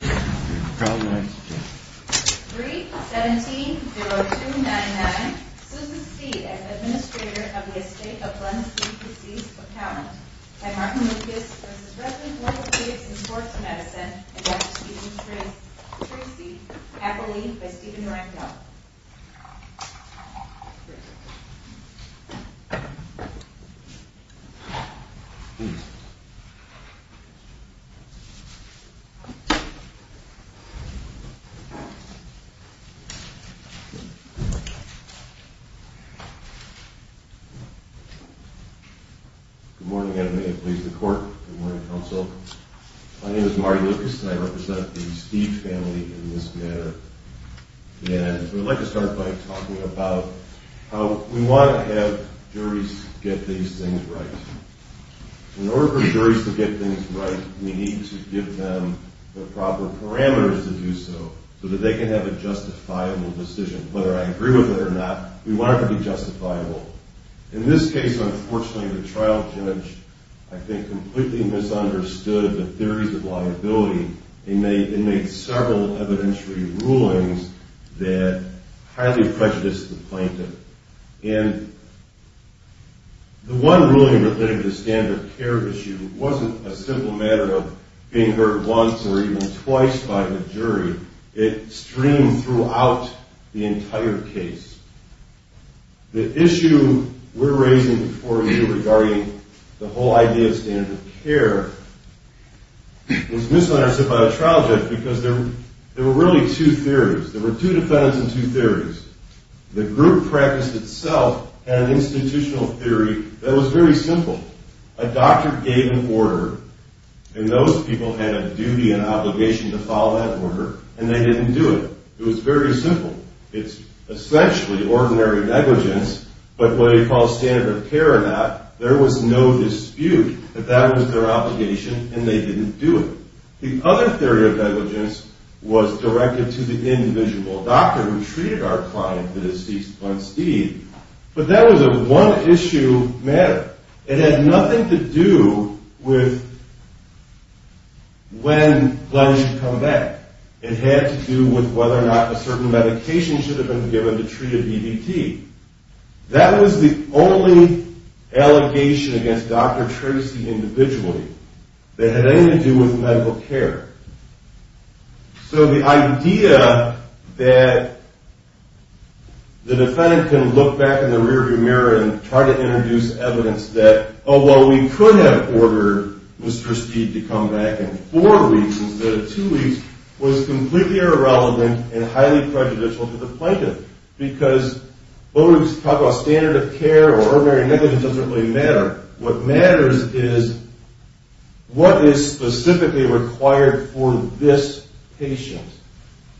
3-17-0299 Susan Steed as Administrator of the Estate of Glenn C. DeCease Accountant by Martin Lucas v. Rezin Orthopedics and Sports Medicine and Dr. Stephen Treacy, Appellee by Stephen Recknell Good morning, and may it please the Court. Good morning, Counsel. My name is Martin Lucas, and I represent the Steed family in this matter. And I'd like to start by talking about how we want to have juries get these things right. In order for juries to get things right, we need to give them the proper parameters to do so, so that they can have a justifiable decision. Whether I agree with it or not, we want it to be justifiable. In this case, unfortunately, the trial judge, I think, completely misunderstood the theories of liability and made several evidentiary rulings that highly prejudiced the plaintiff. And the one ruling related to the standard of care issue wasn't a simple matter of being heard once or even twice by the jury. It streamed throughout the entire case. The issue we're raising before you regarding the whole idea of standard of care was misunderstood by the trial judge because there were really two theories. There were two defendants and two theories. The group practice itself had an institutional theory that was very simple. A doctor gave an order, and those people had a duty and obligation to follow that order, and they didn't do it. It was very simple. It's essentially ordinary negligence, but what they call standard of care or not, there was no dispute that that was their obligation, and they didn't do it. The other theory of negligence was directed to the individual doctor who treated our client, the deceased Glenn Steed, but that was a one-issue matter. It had nothing to do with when Glenn should come back. It had to do with whether or not a certain medication should have been given to treat a DVT. That was the only allegation against Dr. Tracy individually that had anything to do with medical care. So the idea that the defendant can look back in the rear view mirror and try to introduce evidence that, oh, well, we could have ordered Mr. Steed to come back in four weeks instead of two weeks, was completely irrelevant and highly prejudicial to the plaintiff, because whether we talk about standard of care or ordinary negligence doesn't really matter. What matters is what is specifically required for this patient.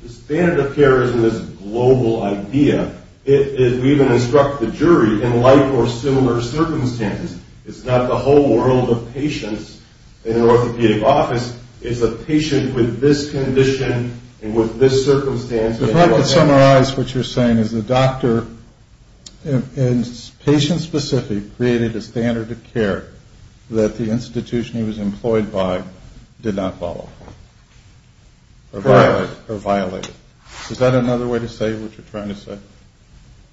The standard of care isn't this global idea. We even instruct the jury in like or similar circumstances. It's not the whole world of patients in an orthopedic office. It's a patient with this condition and with this circumstance. If I could summarize what you're saying is the doctor, and patient-specific, created a standard of care that the institution he was employed by did not follow or violate. Is that another way to say what you're trying to say?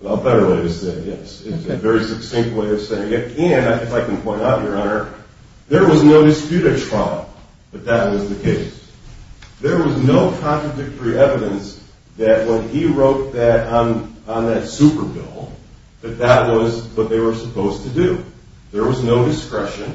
A better way to say it, yes. It's a very succinct way of saying it. And if I can point out, Your Honor, there was no dispute at trial that that was the case. There was no contradictory evidence that when he wrote that on that super bill, that that was what they were supposed to do. There was no discretion.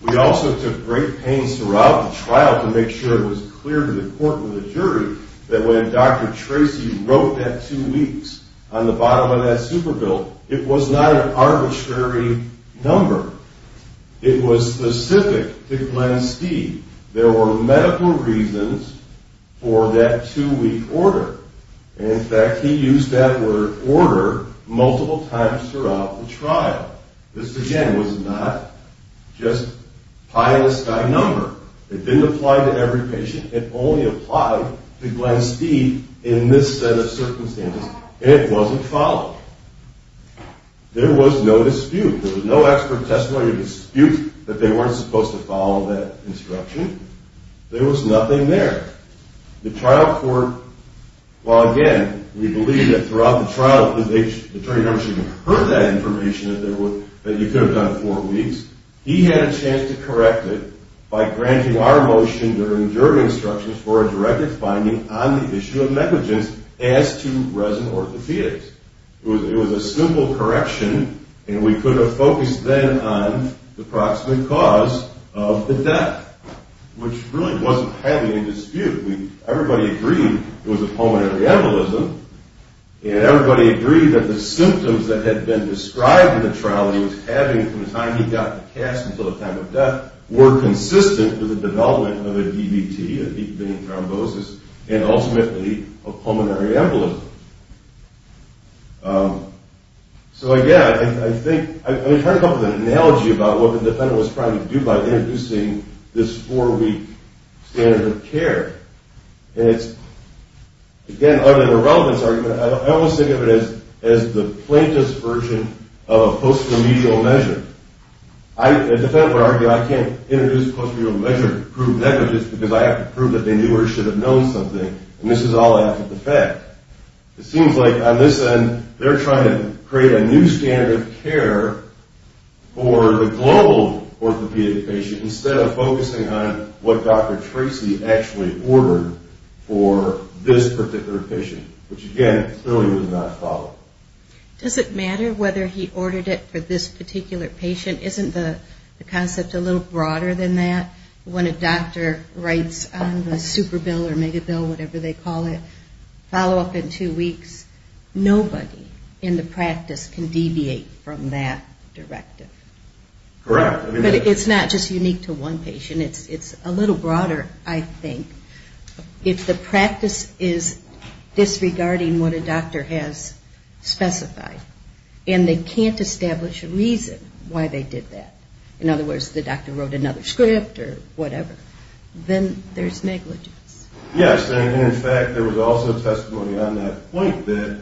We also took great pains throughout the trial to make sure it was clear to the court and the jury that when Dr. Tracy wrote that two weeks on the bottom of that super bill, it was not an arbitrary number. It was specific to Glenn Steeve. There were medical reasons for that two-week order. In fact, he used that word, order, multiple times throughout the trial. This, again, was not just pie-in-the-sky number. It didn't apply to every patient. It only applied to Glenn Steeve in this set of circumstances, and it wasn't followed. There was no dispute. There was no expert testimony of dispute that they weren't supposed to follow that instruction. There was nothing there. The trial court, well, again, we believe that throughout the trial, the attorney general shouldn't have heard that information that you could have done four weeks. He had a chance to correct it by granting our motion during jury instructions for a directed finding on the issue of negligence as to resident orthopedics. It was a simple correction, and we could have focused then on the proximate cause of the death, which really wasn't having a dispute. Everybody agreed it was a pulmonary embolism, and everybody agreed that the symptoms that had been described in the trial that he was having from the time he got cast until the time of death were consistent with the development of a DVT, a deep vein thrombosis, and ultimately a pulmonary embolism. So, again, I think I heard a couple of analogies about what the defendant was trying to do by introducing this four-week standard of care, and it's, again, other than a relevance argument, I almost think of it as the plaintiff's version of a post-remedial measure. The defendant would argue, I can't introduce a post-remedial measure to prove negligence because I have to prove that they knew or should have known something, and this is all after the fact. It seems like, on this end, they're trying to create a new standard of care for the global orthopedic patient instead of focusing on what Dr. Tracy actually ordered for this particular patient, which, again, clearly was not followed. Does it matter whether he ordered it for this particular patient? Isn't the concept a little broader than that? When a doctor writes on the super bill or mega bill, whatever they call it, follow-up in two weeks, nobody in the practice can deviate from that directive. Correct. But it's not just unique to one patient. It's a little broader, I think. If the practice is disregarding what a doctor has specified and they can't establish a reason why they did that, in other words, the doctor wrote another script or whatever, then there's negligence. Yes, and, in fact, there was also testimony on that point that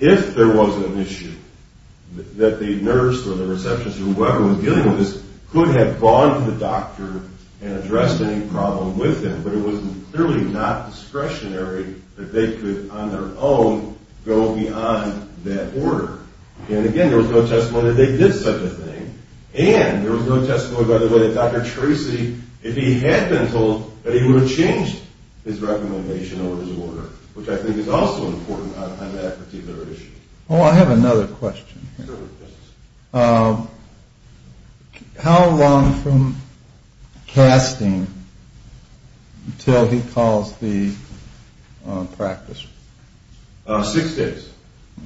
if there was an issue that the nurse or the receptionist or whoever was dealing with this could have gone to the doctor and addressed any problem with him, but it was clearly not discretionary that they could, on their own, go beyond that order. And, again, there was no testimony that they did such a thing. And there was no testimony, by the way, that Dr. Tracy, if he had been told, that he would have changed his recommendation or his order, which I think is also important on that particular issue. Oh, I have another question here. Sure. How long from casting until he calls the practice? Six days.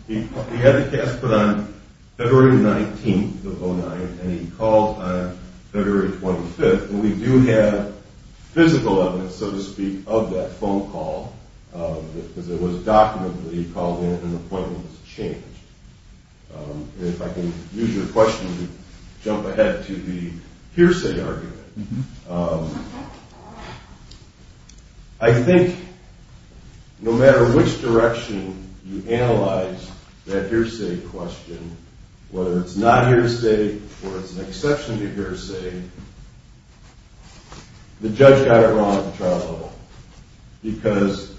He had the cast put on February 19th of 2009, and he called on February 25th. And we do have physical evidence, so to speak, of that phone call, because it was documented that he called in and the appointment was changed. If I can use your question to jump ahead to the hearsay argument, I think no matter which direction you analyze that hearsay question, whether it's not hearsay or it's an exception to hearsay, the judge got it wrong at the trial level. Because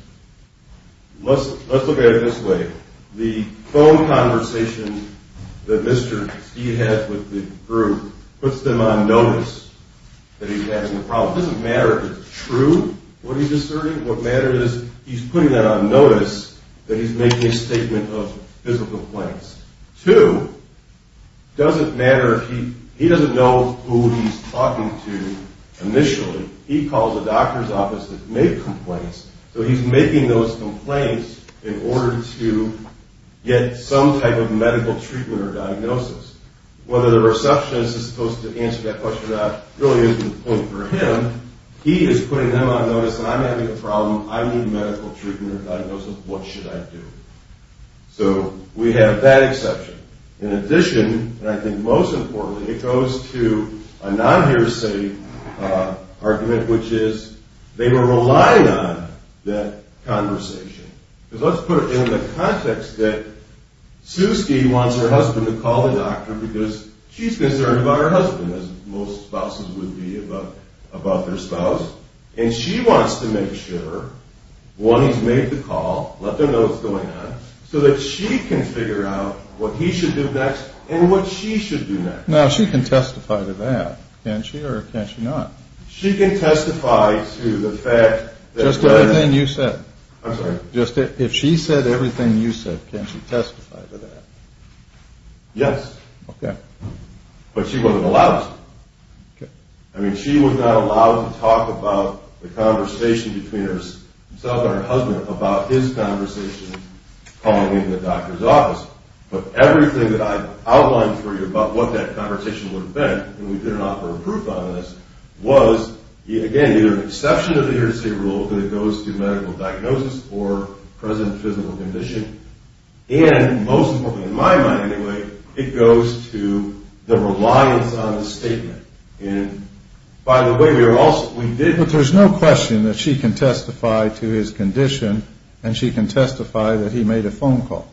let's look at it this way. The phone conversation that Mr. Steed had with the group puts them on notice that he's having a problem. It doesn't matter if it's true what he's asserting. What matters is he's putting that on notice that he's making a statement of physical complaints. Two, it doesn't matter if he doesn't know who he's talking to initially. He calls the doctor's office to make complaints, so he's making those complaints in order to get some type of medical treatment or diagnosis. Whether the receptionist is supposed to answer that question or not really isn't the point for him. He is putting them on notice that I'm having a problem. I need medical treatment or diagnosis. What should I do? So we have that exception. In addition, and I think most importantly, it goes to a non-hearsay argument, which is they were relying on that conversation. Because let's put it in the context that Sue Steed wants her husband to call the doctor because she's concerned about her husband, as most spouses would be about their spouse. And she wants to make sure, one, he's made the call, let them know what's going on, so that she can figure out what he should do next and what she should do next. Now, she can testify to that, can't she? Or can't she not? She can testify to the fact that... Just everything you said. I'm sorry? If she said everything you said, can she testify to that? Yes. Okay. But she wasn't allowed to. Okay. I mean, she was not allowed to talk about the conversation between herself and her husband about his conversation calling in the doctor's office. But everything that I've outlined for you about what that conversation would have been, and we didn't offer proof on this, was, again, either an exception to the here-to-say rule that it goes to medical diagnosis or present physical condition. And most importantly, in my mind anyway, it goes to the reliance on the statement. And by the way, we are also... But there's no question that she can testify to his condition, and she can testify that he made a phone call.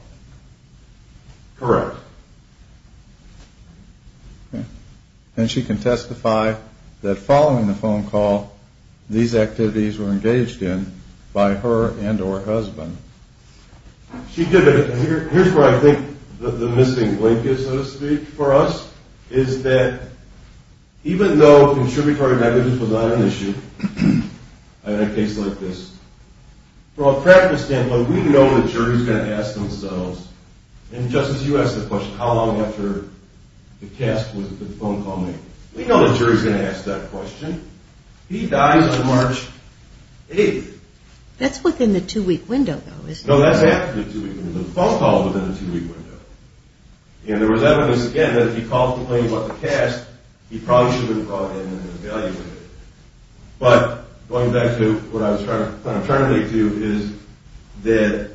Correct. And she can testify that following the phone call, these activities were engaged in by her and her husband. Here's where I think the missing link is, so to speak, for us, is that even though contributory negligence was not an issue in a case like this, from a practice standpoint, we know the jury is going to ask themselves, and Justice, you asked the question, how long after the cast was the phone call made? We know the jury is going to ask that question. He dies on March 8th. That's within the two-week window, though, isn't it? No, that's after the two-week window. The phone call is within the two-week window. And there was evidence, again, that if he called to claim what the cast, he probably should have been brought in and evaluated. But going back to what I was trying to relate to is that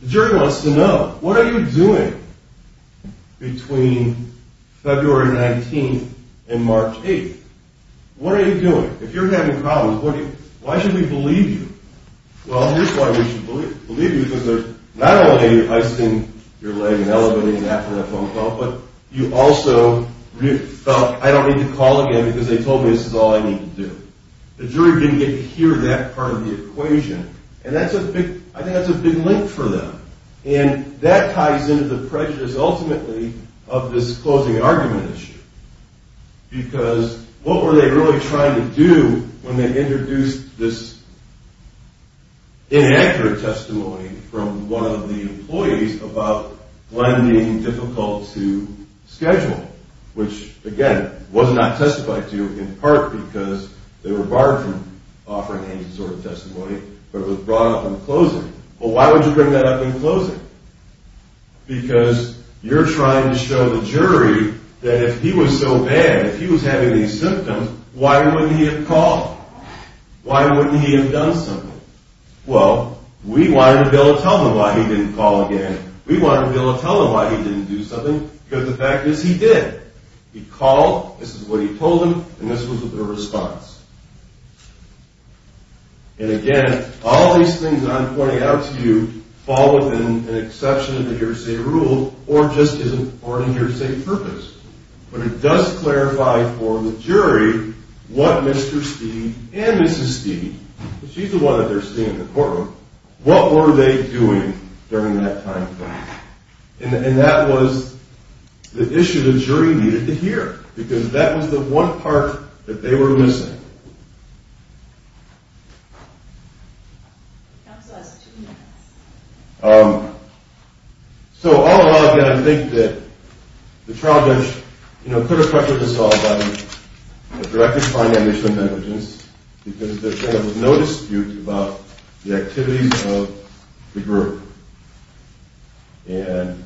the jury wants to know. What are you doing between February 19th and March 8th? What are you doing? If you're having problems, why should we believe you? Well, here's why we should believe you, because not only are you icing your leg and elevating that for that phone call, but you also felt, I don't need to call again because they told me this is all I need to do. The jury didn't adhere to that part of the equation, and I think that's a big link for them. And that ties into the prejudice, ultimately, of this closing argument issue, because what were they really trying to do when they introduced this inaccurate testimony from one of the employees about Glenn being difficult to schedule, which, again, was not testified to in part because they were barred from offering any sort of testimony, but it was brought up in closing. Well, why would you bring that up in closing? Because you're trying to show the jury that if he was so bad, if he was having these symptoms, why wouldn't he have called? Why wouldn't he have done something? Well, we wanted to be able to tell them why he didn't call again. We wanted to be able to tell them why he didn't do something, because the fact is, he did. He called, this is what he told them, and this was their response. And, again, all these things that I'm pointing out to you fall within an exception of the hearsay rule or a hearsay purpose, but it does clarify for the jury what Mr. Steeve and Mrs. Steeve, she's the one that they're seeing in the courtroom, what were they doing during that time frame? And that was the issue the jury needed to hear, because that was the one part that they were missing. Counsel has two minutes. So, all in all, again, I think that the trial judge, you know, put a pressure to solve on you, to directly find the admission of negligence, because there was no dispute about the activities of the group. And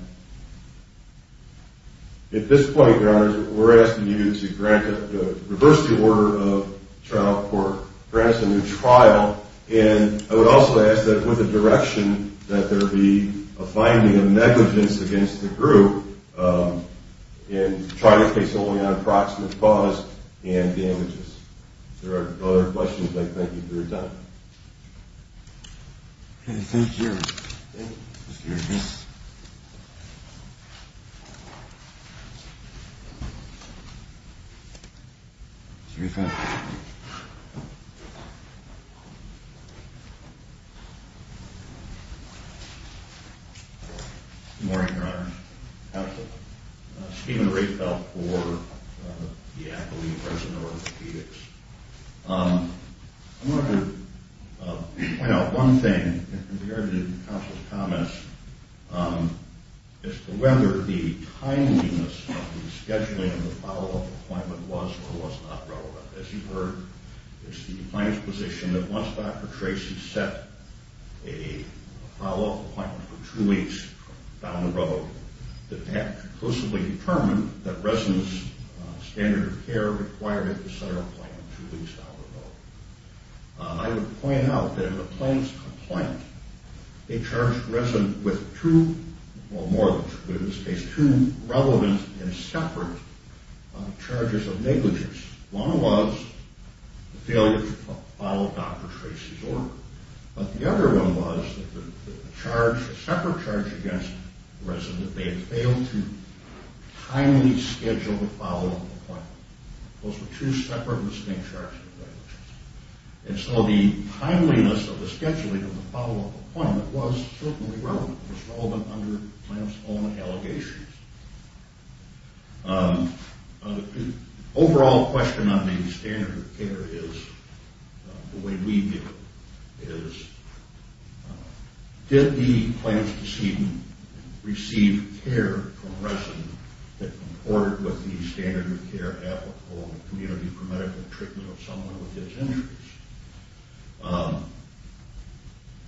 at this point, Your Honors, we're asking you to grant, reverse the order of trial court, grant us a new trial, and I would also ask that with a direction that there be a finding of negligence against the group and try to case only on approximate cause and damages. If there are other questions, I thank you for your time. Okay, thank you. Thank you. Thank you, Your Honors. Steven Riefelt. Good morning, Your Honors. Steven Riefelt for the Advocacy and Residential Orthopedics. I wanted to point out one thing in regard to Counsel's comments as to whether the timeliness of the scheduling and the follow-up appointment was or was not relevant. As you've heard, it's the plaintiff's position that once Dr. Tracy set a follow-up appointment for two weeks down the road, that that conclusively determined that residents' standard of care required at the center appointment two weeks down the road. I would point out that in the plaintiff's complaint, they charged the resident with two, well, more than two, but in this case two relevant and separate charges of negligence. One was the failure to follow Dr. Tracy's order, but the other one was a separate charge against the resident that they had failed to timely schedule the follow-up appointment. Those were two separate, distinct charges of negligence. And so the timeliness of the scheduling of the follow-up appointment was certainly relevant. It was relevant under the plaintiff's own allegations. The overall question on the standard of care is, the way we view it, is did the plaintiff's decedent receive care from a resident that comported with the standard of care applicable to community premedical treatment of someone with these injuries?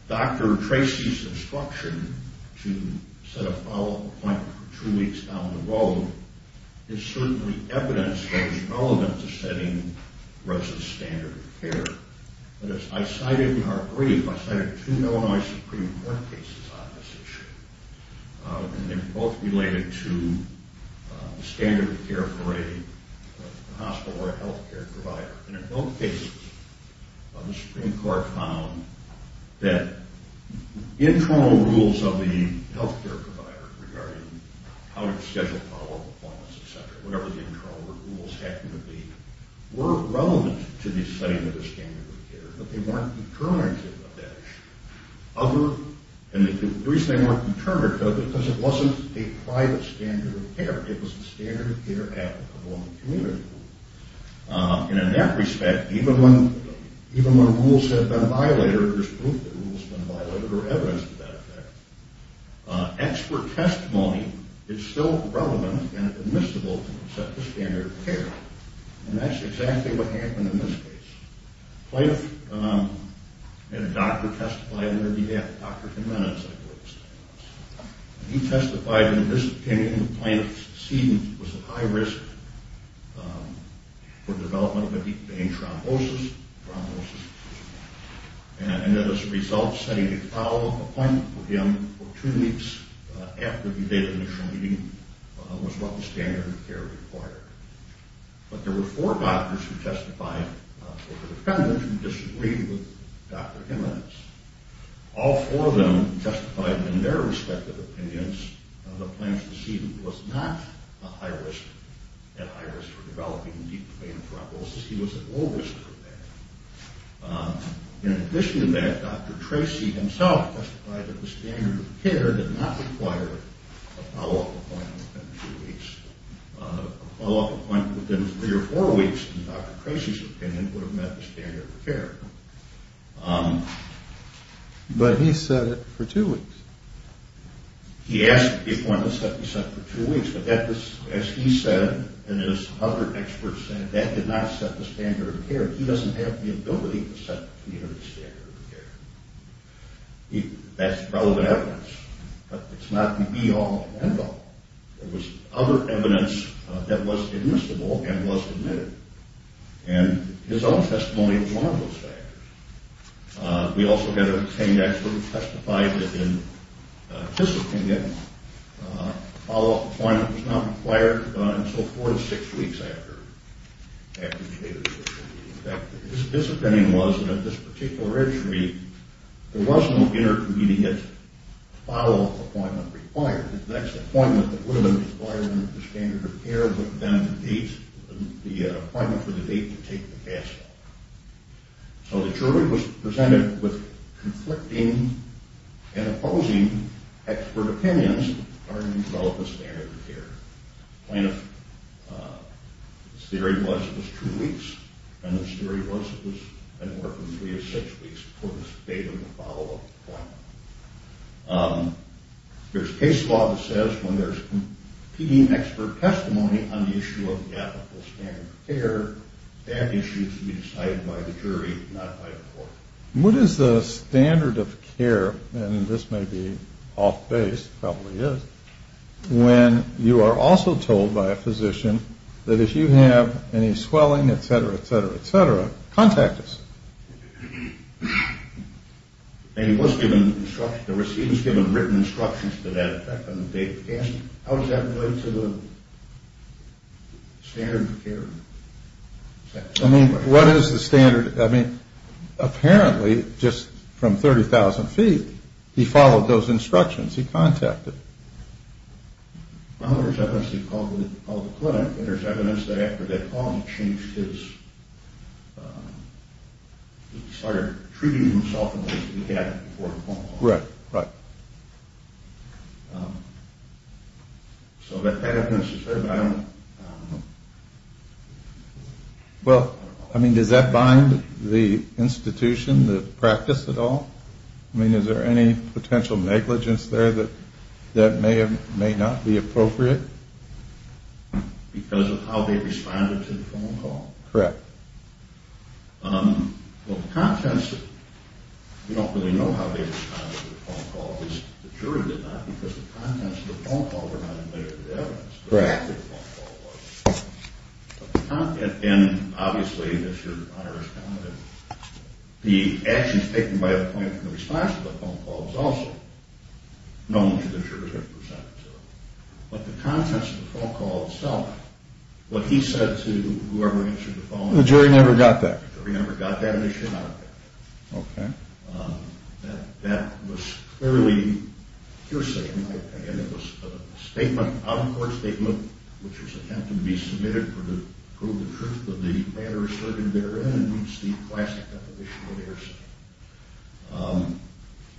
Dr. Tracy's instruction to set a follow-up appointment for two weeks down the road is certainly evidence that it's relevant to setting residents' standard of care. But as I cited in our brief, I cited two Illinois Supreme Court cases on this issue, and they're both related to the standard of care for a hospital or a health care provider. And in both cases, the Supreme Court found that internal rules of the health care provider regarding how to schedule follow-up appointments, etc., whatever the internal rules happened to be, were relevant to the setting of the standard of care, but they weren't determinative of that issue. And the reason they weren't determinative is because it wasn't a private standard of care. It was a standard of care applicable in the community. And in that respect, even when rules had been violated or there's proof that rules have been violated or evidence to that effect, expert testimony is still relevant and admissible to set the standard of care. And that's exactly what happened in this case. Plaintiff had a doctor testify on their behalf, Dr. Jim Rennan, I believe his name was. He testified that in this opinion, the plaintiff's decedent was at high risk for development of a deep vein thrombosis. Thrombosis. And as a result, setting a follow-up appointment for him for two weeks after the date of the initial meeting was what the standard of care required. But there were four doctors who testified for the defendant who disagreed with Dr. Jimmins. All four of them testified in their respective opinions of the plaintiff's decedent was not at high risk for developing a deep vein thrombosis. He was at low risk for that. In addition to that, Dr. Tracy himself testified that the standard of care did not require a follow-up appointment within two weeks. A follow-up appointment within three or four weeks, in Dr. Tracy's opinion, would have met the standard of care. But he said it for two weeks. He asked for the appointment to be set for two weeks, but as he said and as other experts said, that did not set the standard of care. He doesn't have the ability to set the standard of care. That's relevant evidence, but it's not the be-all, end-all. There was other evidence that was admissible and was admitted. And his own testimony was one of those factors. We also had a trained expert who testified that in his opinion, a follow-up appointment was not required until four to six weeks after the date of the decision. In fact, his opinion was that at this particular registry, there was no intermediate follow-up appointment required. The next appointment that would have been required under the standard of care would have been the date, the appointment for the date to take the gas off. So the jury was presented with conflicting and opposing expert opinions regarding the development of standard of care. The point of this theory was it was two weeks, and this theory was it was an order from three to six weeks before the date of the follow-up appointment. There's case law that says when there's competing expert testimony on the issue of the ethical standard of care, that issue should be decided by the jury, not by the court. What is the standard of care, and this may be off-base, probably is, when you are also told by a physician that if you have any swelling, et cetera, et cetera, et cetera, contact us. And he was given instructions, the receipt was given written instructions to that effect on the date of the gas. How does that relate to the standard of care? I mean, what is the standard? I mean, apparently, just from 30,000 feet, he followed those instructions. He contacted. Well, there's evidence he called the clinic, and there's evidence that after that call he changed his, he started treating himself the way he had before the phone call. Right, right. So that evidence is there, but I don't know. Well, I mean, does that bind the institution, the practice at all? I mean, is there any potential negligence there that may not be appropriate? Because of how they responded to the phone call? Correct. Well, the contents of it, we don't really know how they responded to the phone call, at least the jury did not, because the contents of the phone call were not in the evidence. Correct. That's what the phone call was. And obviously, as your Honor is commenting, the actions taken by the client in response to the phone call was also known to the jury, but the contents of the phone call itself, what he said to whoever answered the phone, The jury never got that. The jury never got that, and they should not have. Okay. That was clearly hearsay in my opinion. It was a statement, an out-of-court statement, which was attempted to be submitted for the truth of the matter asserted therein, and it's the classic of the issue of hearsay.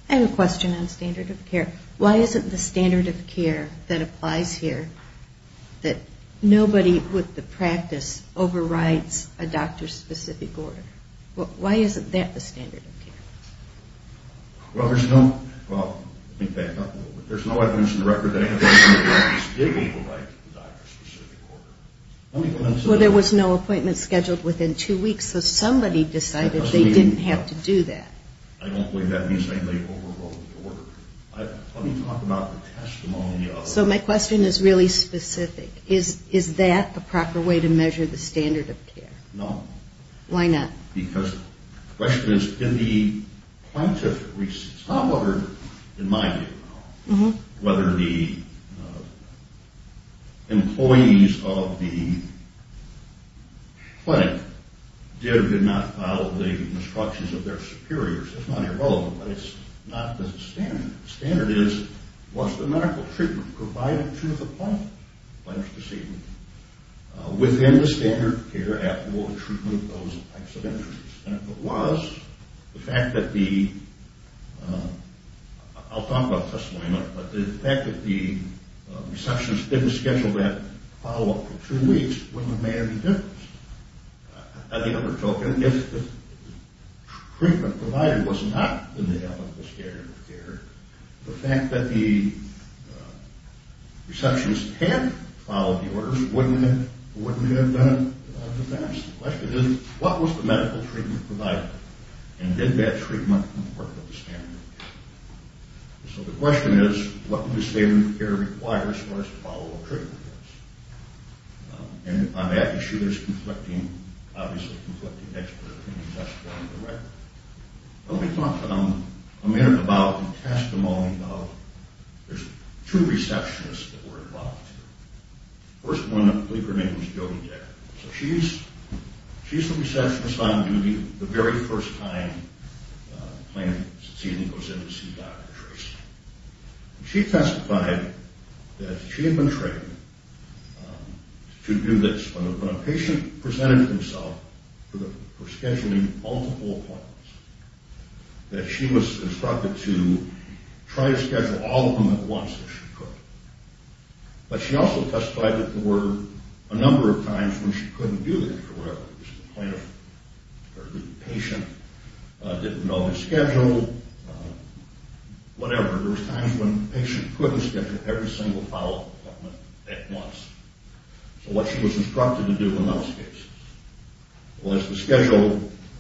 I have a question on standard of care. Why isn't the standard of care that applies here that nobody with the practice overrides a doctor's specific order? Why isn't that the standard of care? Well, there's no evidence in the record that anybody with the practice did override the doctor's specific order. Well, there was no appointment scheduled within two weeks, so somebody decided they didn't have to do that. I don't believe that means they overrode the order. Let me talk about the testimony of... So my question is really specific. Is that the proper way to measure the standard of care? No. Why not? Because the question is, in the plaintiff receipts, however, in my view, whether the employees of the clinic did or did not follow the instructions of their superiors, that's not irrelevant, but it's not the standard. The standard is, was the medical treatment provided to the plaintiff, the plaintiff's deceitful, within the standard of care applicable to treatment of those types of injuries? And if it was, the fact that the... I'll talk about the testimony in a minute, but the fact that the receptionist didn't schedule that follow-up for two weeks wouldn't have made any difference. On the other token, if the treatment provided was not in the applicable standard of care, the fact that the receptionist had followed the orders wouldn't have been a disaster. So the question is, what was the medical treatment provided? And did that treatment conform to the standard of care? So the question is, what do the standards of care require as far as follow-up treatment goes? And on that issue, there's conflicting... obviously, conflicting expert opinion. That's going to be the record. Let me talk for a minute about the testimony of... There's two receptionists that we're involved with here. First one, I believe her name is Jody Decker. So she's the receptionist on duty the very first time a patient goes in to see Dr. Tracy. She testified that she had been trained to do this. When a patient presented himself for scheduling multiple appointments, that she was instructed to try to schedule all of them at once if she could. But she also testified that there were a number of times when she couldn't do that for whatever reason. The patient didn't know his schedule, whatever. There were times when the patient couldn't schedule every single follow-up appointment at once. So what she was instructed to do in those cases was to schedule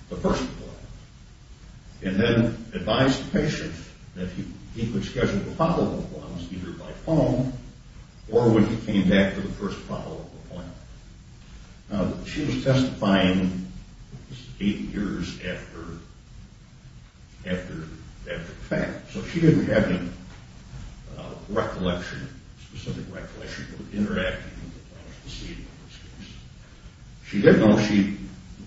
the first appointment and then advise the patient that he could schedule the follow-up appointments either by phone or when he came back for the first follow-up appointment. Now, she was testifying eight years after the fact. So she didn't have any recollection, specific recollection, of interacting with the patient in those cases. She did know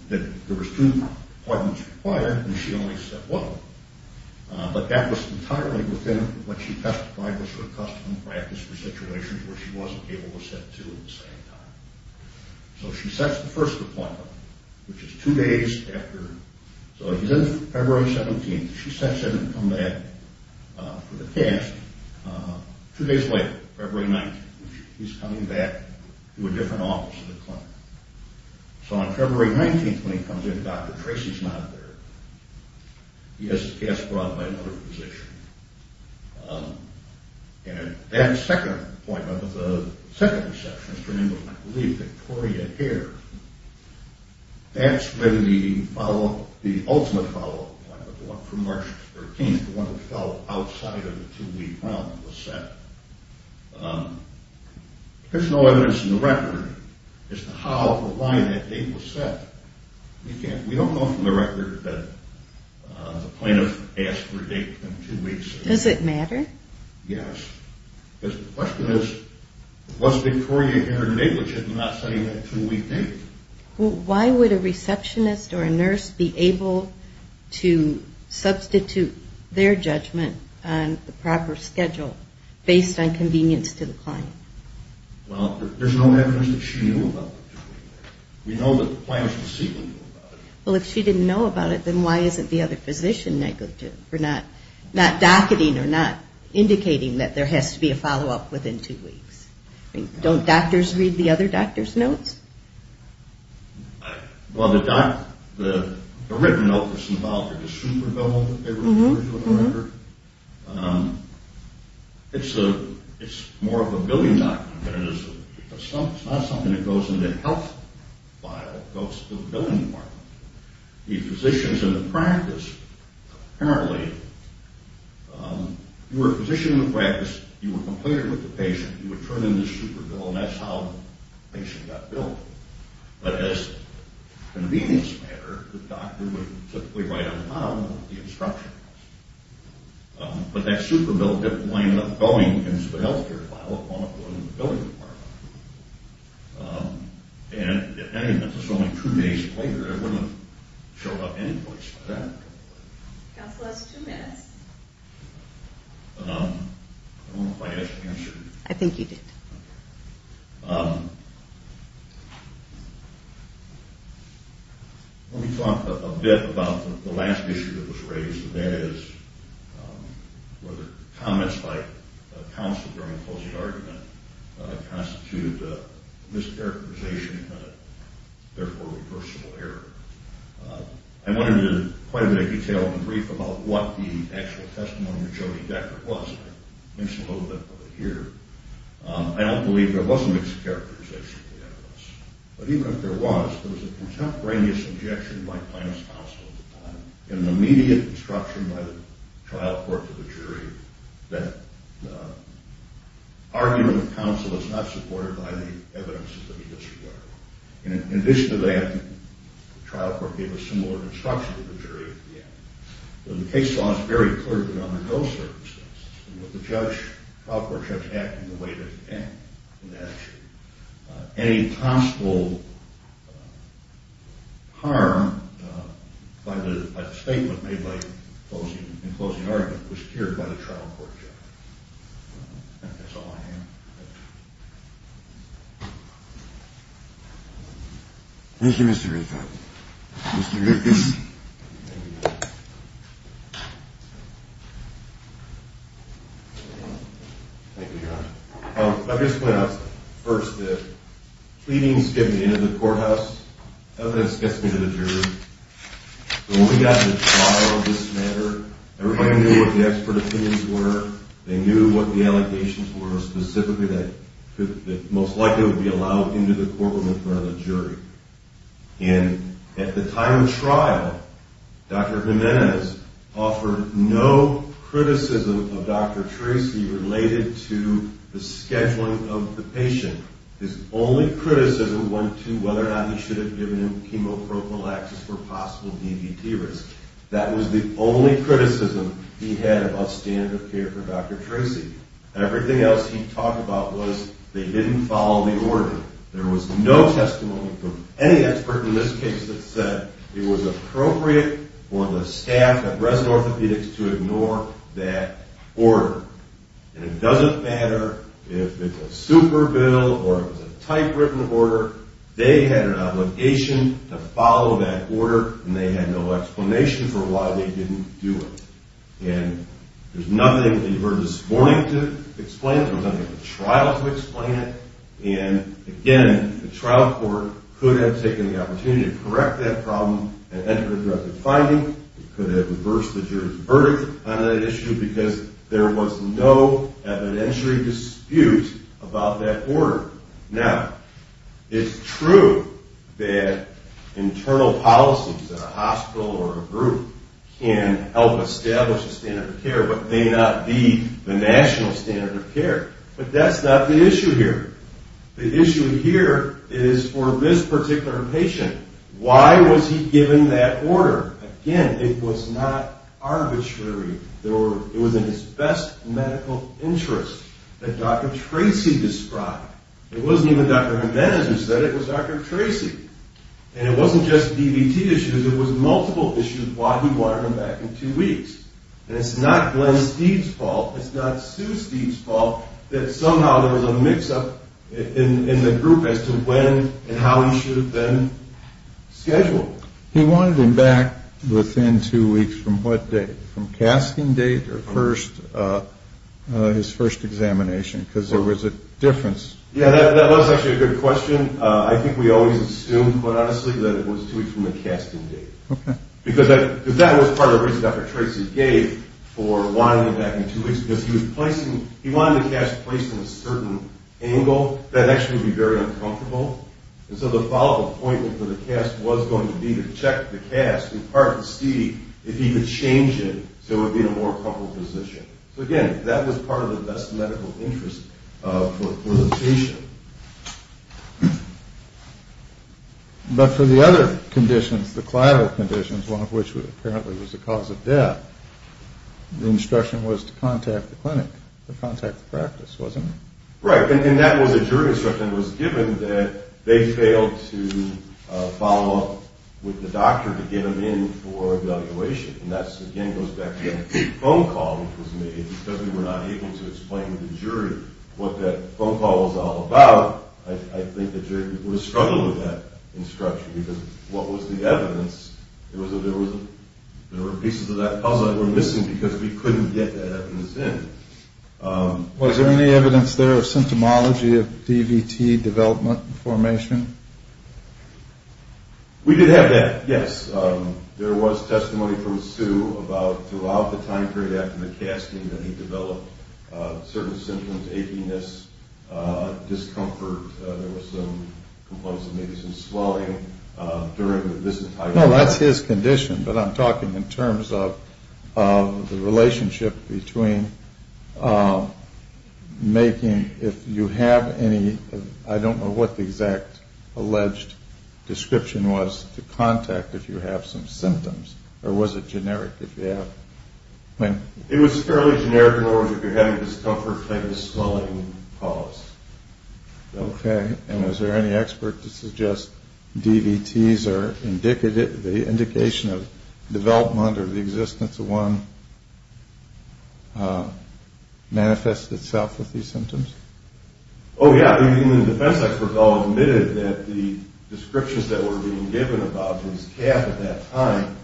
that there were two appointments required and she only said one. But that was entirely within what she testified was her custom and practice for situations where she wasn't able to set two at the same time. So she sets the first appointment, which is two days after. So he's in February 17th. She sets in to come back for the cast two days later, February 19th. He's coming back to a different office at the clinic. So on February 19th, when he comes in, Dr. Tracy's not there. He has to cast abroad by another physician. And that second appointment, the second receptionist, her name was, I believe, Victoria Hare, that's when the follow-up, the ultimate follow-up appointment, the one from March 13th, the one that fell outside of the two-week round was set. There's no evidence in the record as to how or why that date was set. We don't know from the record that the plaintiff asked for a date in two weeks. Does it matter? Yes. Because the question is, was Victoria Hare in a date which is not setting that two-week date? Why would a receptionist or a nurse be able to substitute their judgment on the proper schedule, based on convenience to the client? Well, there's no evidence that she knew about the two-week date. We know that the plaintiff's deceitfully knew about it. Well, if she didn't know about it, then why isn't the other physician negative for not docketing or not indicating that there has to be a follow-up within two weeks? Don't doctors read the other doctor's notes? Well, the written note that's involved, the super bill that they referred to in the record, it's more of a billing document than it is a, it's not something that goes in the health file, it goes to the billing department. The physicians in the practice, apparently, you were a physician in the practice, you were completed with the patient, you would turn in the super bill, and that's how the patient got billed. But as a convenience matter, the doctor would typically write on the file what the instruction was. But that super bill didn't wind up going into the health care file, it wound up going to the billing department. And if any of this was only two days later, it wouldn't have showed up anyplace. Counselor has two minutes. I don't know if I answered. I think you did. Let me talk a bit about the last issue that was raised, and that is whether comments by counsel during a closing argument constitute mischaracterization and therefore reversible error. I went into quite a bit of detail in the brief about what the actual testimony of Jody Deckard was. I mentioned a little bit of it here. I don't believe there was a mischaracterization in any of this. But even if there was, there was a contemporaneous objection by plaintiff's counsel at the time and an immediate disruption by the trial court to the jury that argument of counsel is not supported by the evidence of the mischaracterization. In addition to that, the trial court gave a similar disruption to the jury at the end. The case law is very clear that under those circumstances, the trial court judge acted in the way that it did in that case. Any possible harm by the statement made in closing argument was cured by the trial court judge. I think that's all I have. Thank you, Mr. Reiffe. I'll just point out first that pleadings get me into the courthouse. Evidence gets me to the jury. When we got to the trial of this matter, everybody knew what the expert opinions were. They knew what the allegations were specifically that most likely would be allowed into the courtroom in front of the jury. And at the time of trial, Dr. Jimenez offered no criticism of Dr. Tracy related to the scheduling of the patient. His only criticism went to whether or not he should have given him chemo prophylaxis for possible DVT risk. That was the only criticism he had about standard of care for Dr. Tracy. Everything else he talked about was they didn't follow the order. There was no testimony from any expert in this case that said it was appropriate for the staff at Resin Orthopedics to ignore that order. And it doesn't matter if it's a super bill or if it's a typewritten order, they had an obligation to follow that order, and they had no explanation for why they didn't do it. And there's nothing that he heard this morning to explain it. There was nothing at the trial to explain it. And, again, the trial court could have taken the opportunity to correct that problem and enter a direct finding. It could have reversed the jury's verdict on that issue because there was no evidentiary dispute about that order. Now, it's true that internal policies at a hospital or a group can help establish a standard of care but may not be the national standard of care. But that's not the issue here. The issue here is for this particular patient. Why was he given that order? Again, it was not arbitrary. It was in his best medical interest that Dr. Tracy described. It wasn't even Dr. Jimenez who said it was Dr. Tracy. And it wasn't just DVT issues. It was multiple issues why he wanted him back in two weeks. And it's not Glenn Steeve's fault. It's not Sue Steeve's fault that somehow there was a mix-up in the group as to when and how he should have been scheduled. He wanted him back within two weeks from what date? From casting date or his first examination? Because there was a difference. Yeah, that was actually a good question. I think we always assumed, quite honestly, that it was two weeks from the casting date. Because that was part of the reason Dr. Tracy gave for wanting him back in two weeks because he wanted the cast placed in a certain angle that actually would be very uncomfortable. And so the follow-up appointment for the cast was going to be to check the cast in part to see if he could change it so it would be in a more comfortable position. So again, that was part of the best medical interest for the patient. But for the other conditions, the collateral conditions, one of which apparently was the cause of death, the instruction was to contact the clinic, to contact the practice, wasn't it? Right, and that was a jury instruction. It was given that they failed to follow up with the doctor to get him in for evaluation. And that again goes back to that phone call which was made because we were not able to explain to the jury what that phone call was all about. I think the jury would have struggled with that instruction because what was the evidence? There were pieces of that puzzle that were missing because we couldn't get that evidence in. Was there any evidence there of symptomology of DVT development and formation? We did have that, yes. There was testimony from Sue about throughout the time period after the casting that he developed certain symptoms, achiness, discomfort. There was some swelling during the visit. No, that's his condition, but I'm talking in terms of the relationship between making, if you have any, I don't know what the exact alleged description was, to contact if you have some symptoms, or was it generic if you have? It was fairly generic in the words that you're having discomfort, you're having a swelling, you're having a pulse. Okay, and was there any expert to suggest DVTs are indicative, the indication of development or the existence of one manifests itself with these symptoms? Oh, yeah, the defense experts all admitted that the descriptions that were being given about his calf at that time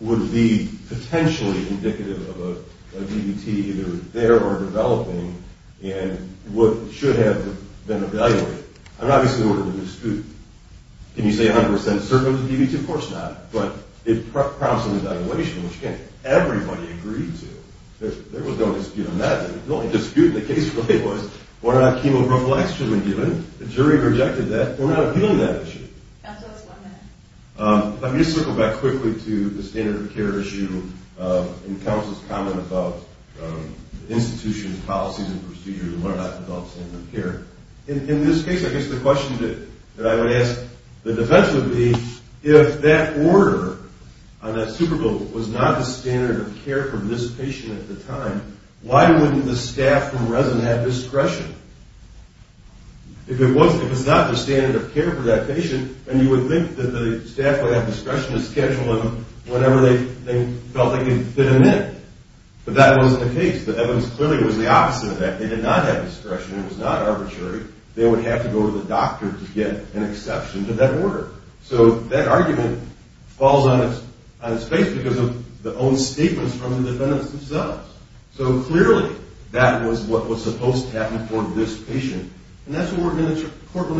would be potentially indicative of a DVT either there or developing and what should have been evaluated. I mean, obviously there was a dispute. Can you say 100% certain it was a DVT? Of course not, but it promised an evaluation, which again, everybody agreed to. There was no dispute on that. The only dispute in the case really was whether or not chemo prophylaxis should have been given. The jury rejected that. They're not appealing that issue. Let me just circle back quickly to the standard of care issue and counsel's comment about institutions, policies, and procedures and whether or not to develop standard of care. In this case, I guess the question that I would ask the defense would be if that order on that Super Bowl was not the standard of care for this patient at the time, why wouldn't the staff from resin have discretion? If it was not the standard of care for that patient, then you would think that the staff would have discretion to schedule him whenever they felt they could fit him in. But that wasn't the case. The evidence clearly was the opposite of that. They did not have discretion. It was not arbitrary. They would have to go to the doctor to get an exception to that order. So that argument falls on its face because of the own statements from the defendants themselves. So clearly that was what was supposed to happen for this patient, and that's what we're going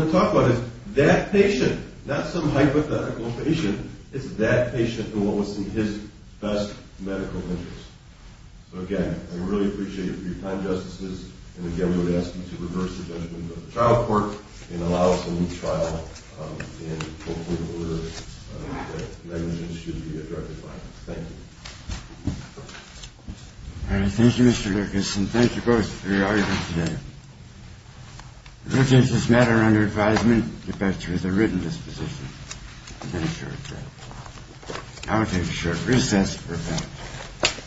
to talk about is that patient, not some hypothetical patient. It's that patient and what was in his best medical interest. So, again, I really appreciate your time, Justices. And, again, we would ask you to reverse the judgment of the trial court and allow us to leave trial in the appropriate order that the evidence should be directed by. Thank you. All right. Thank you, Mr. Lucas, and thank you both for your arguments today. If you change this matter under advisement, get back to your written disposition. I'll take a short recess for a moment.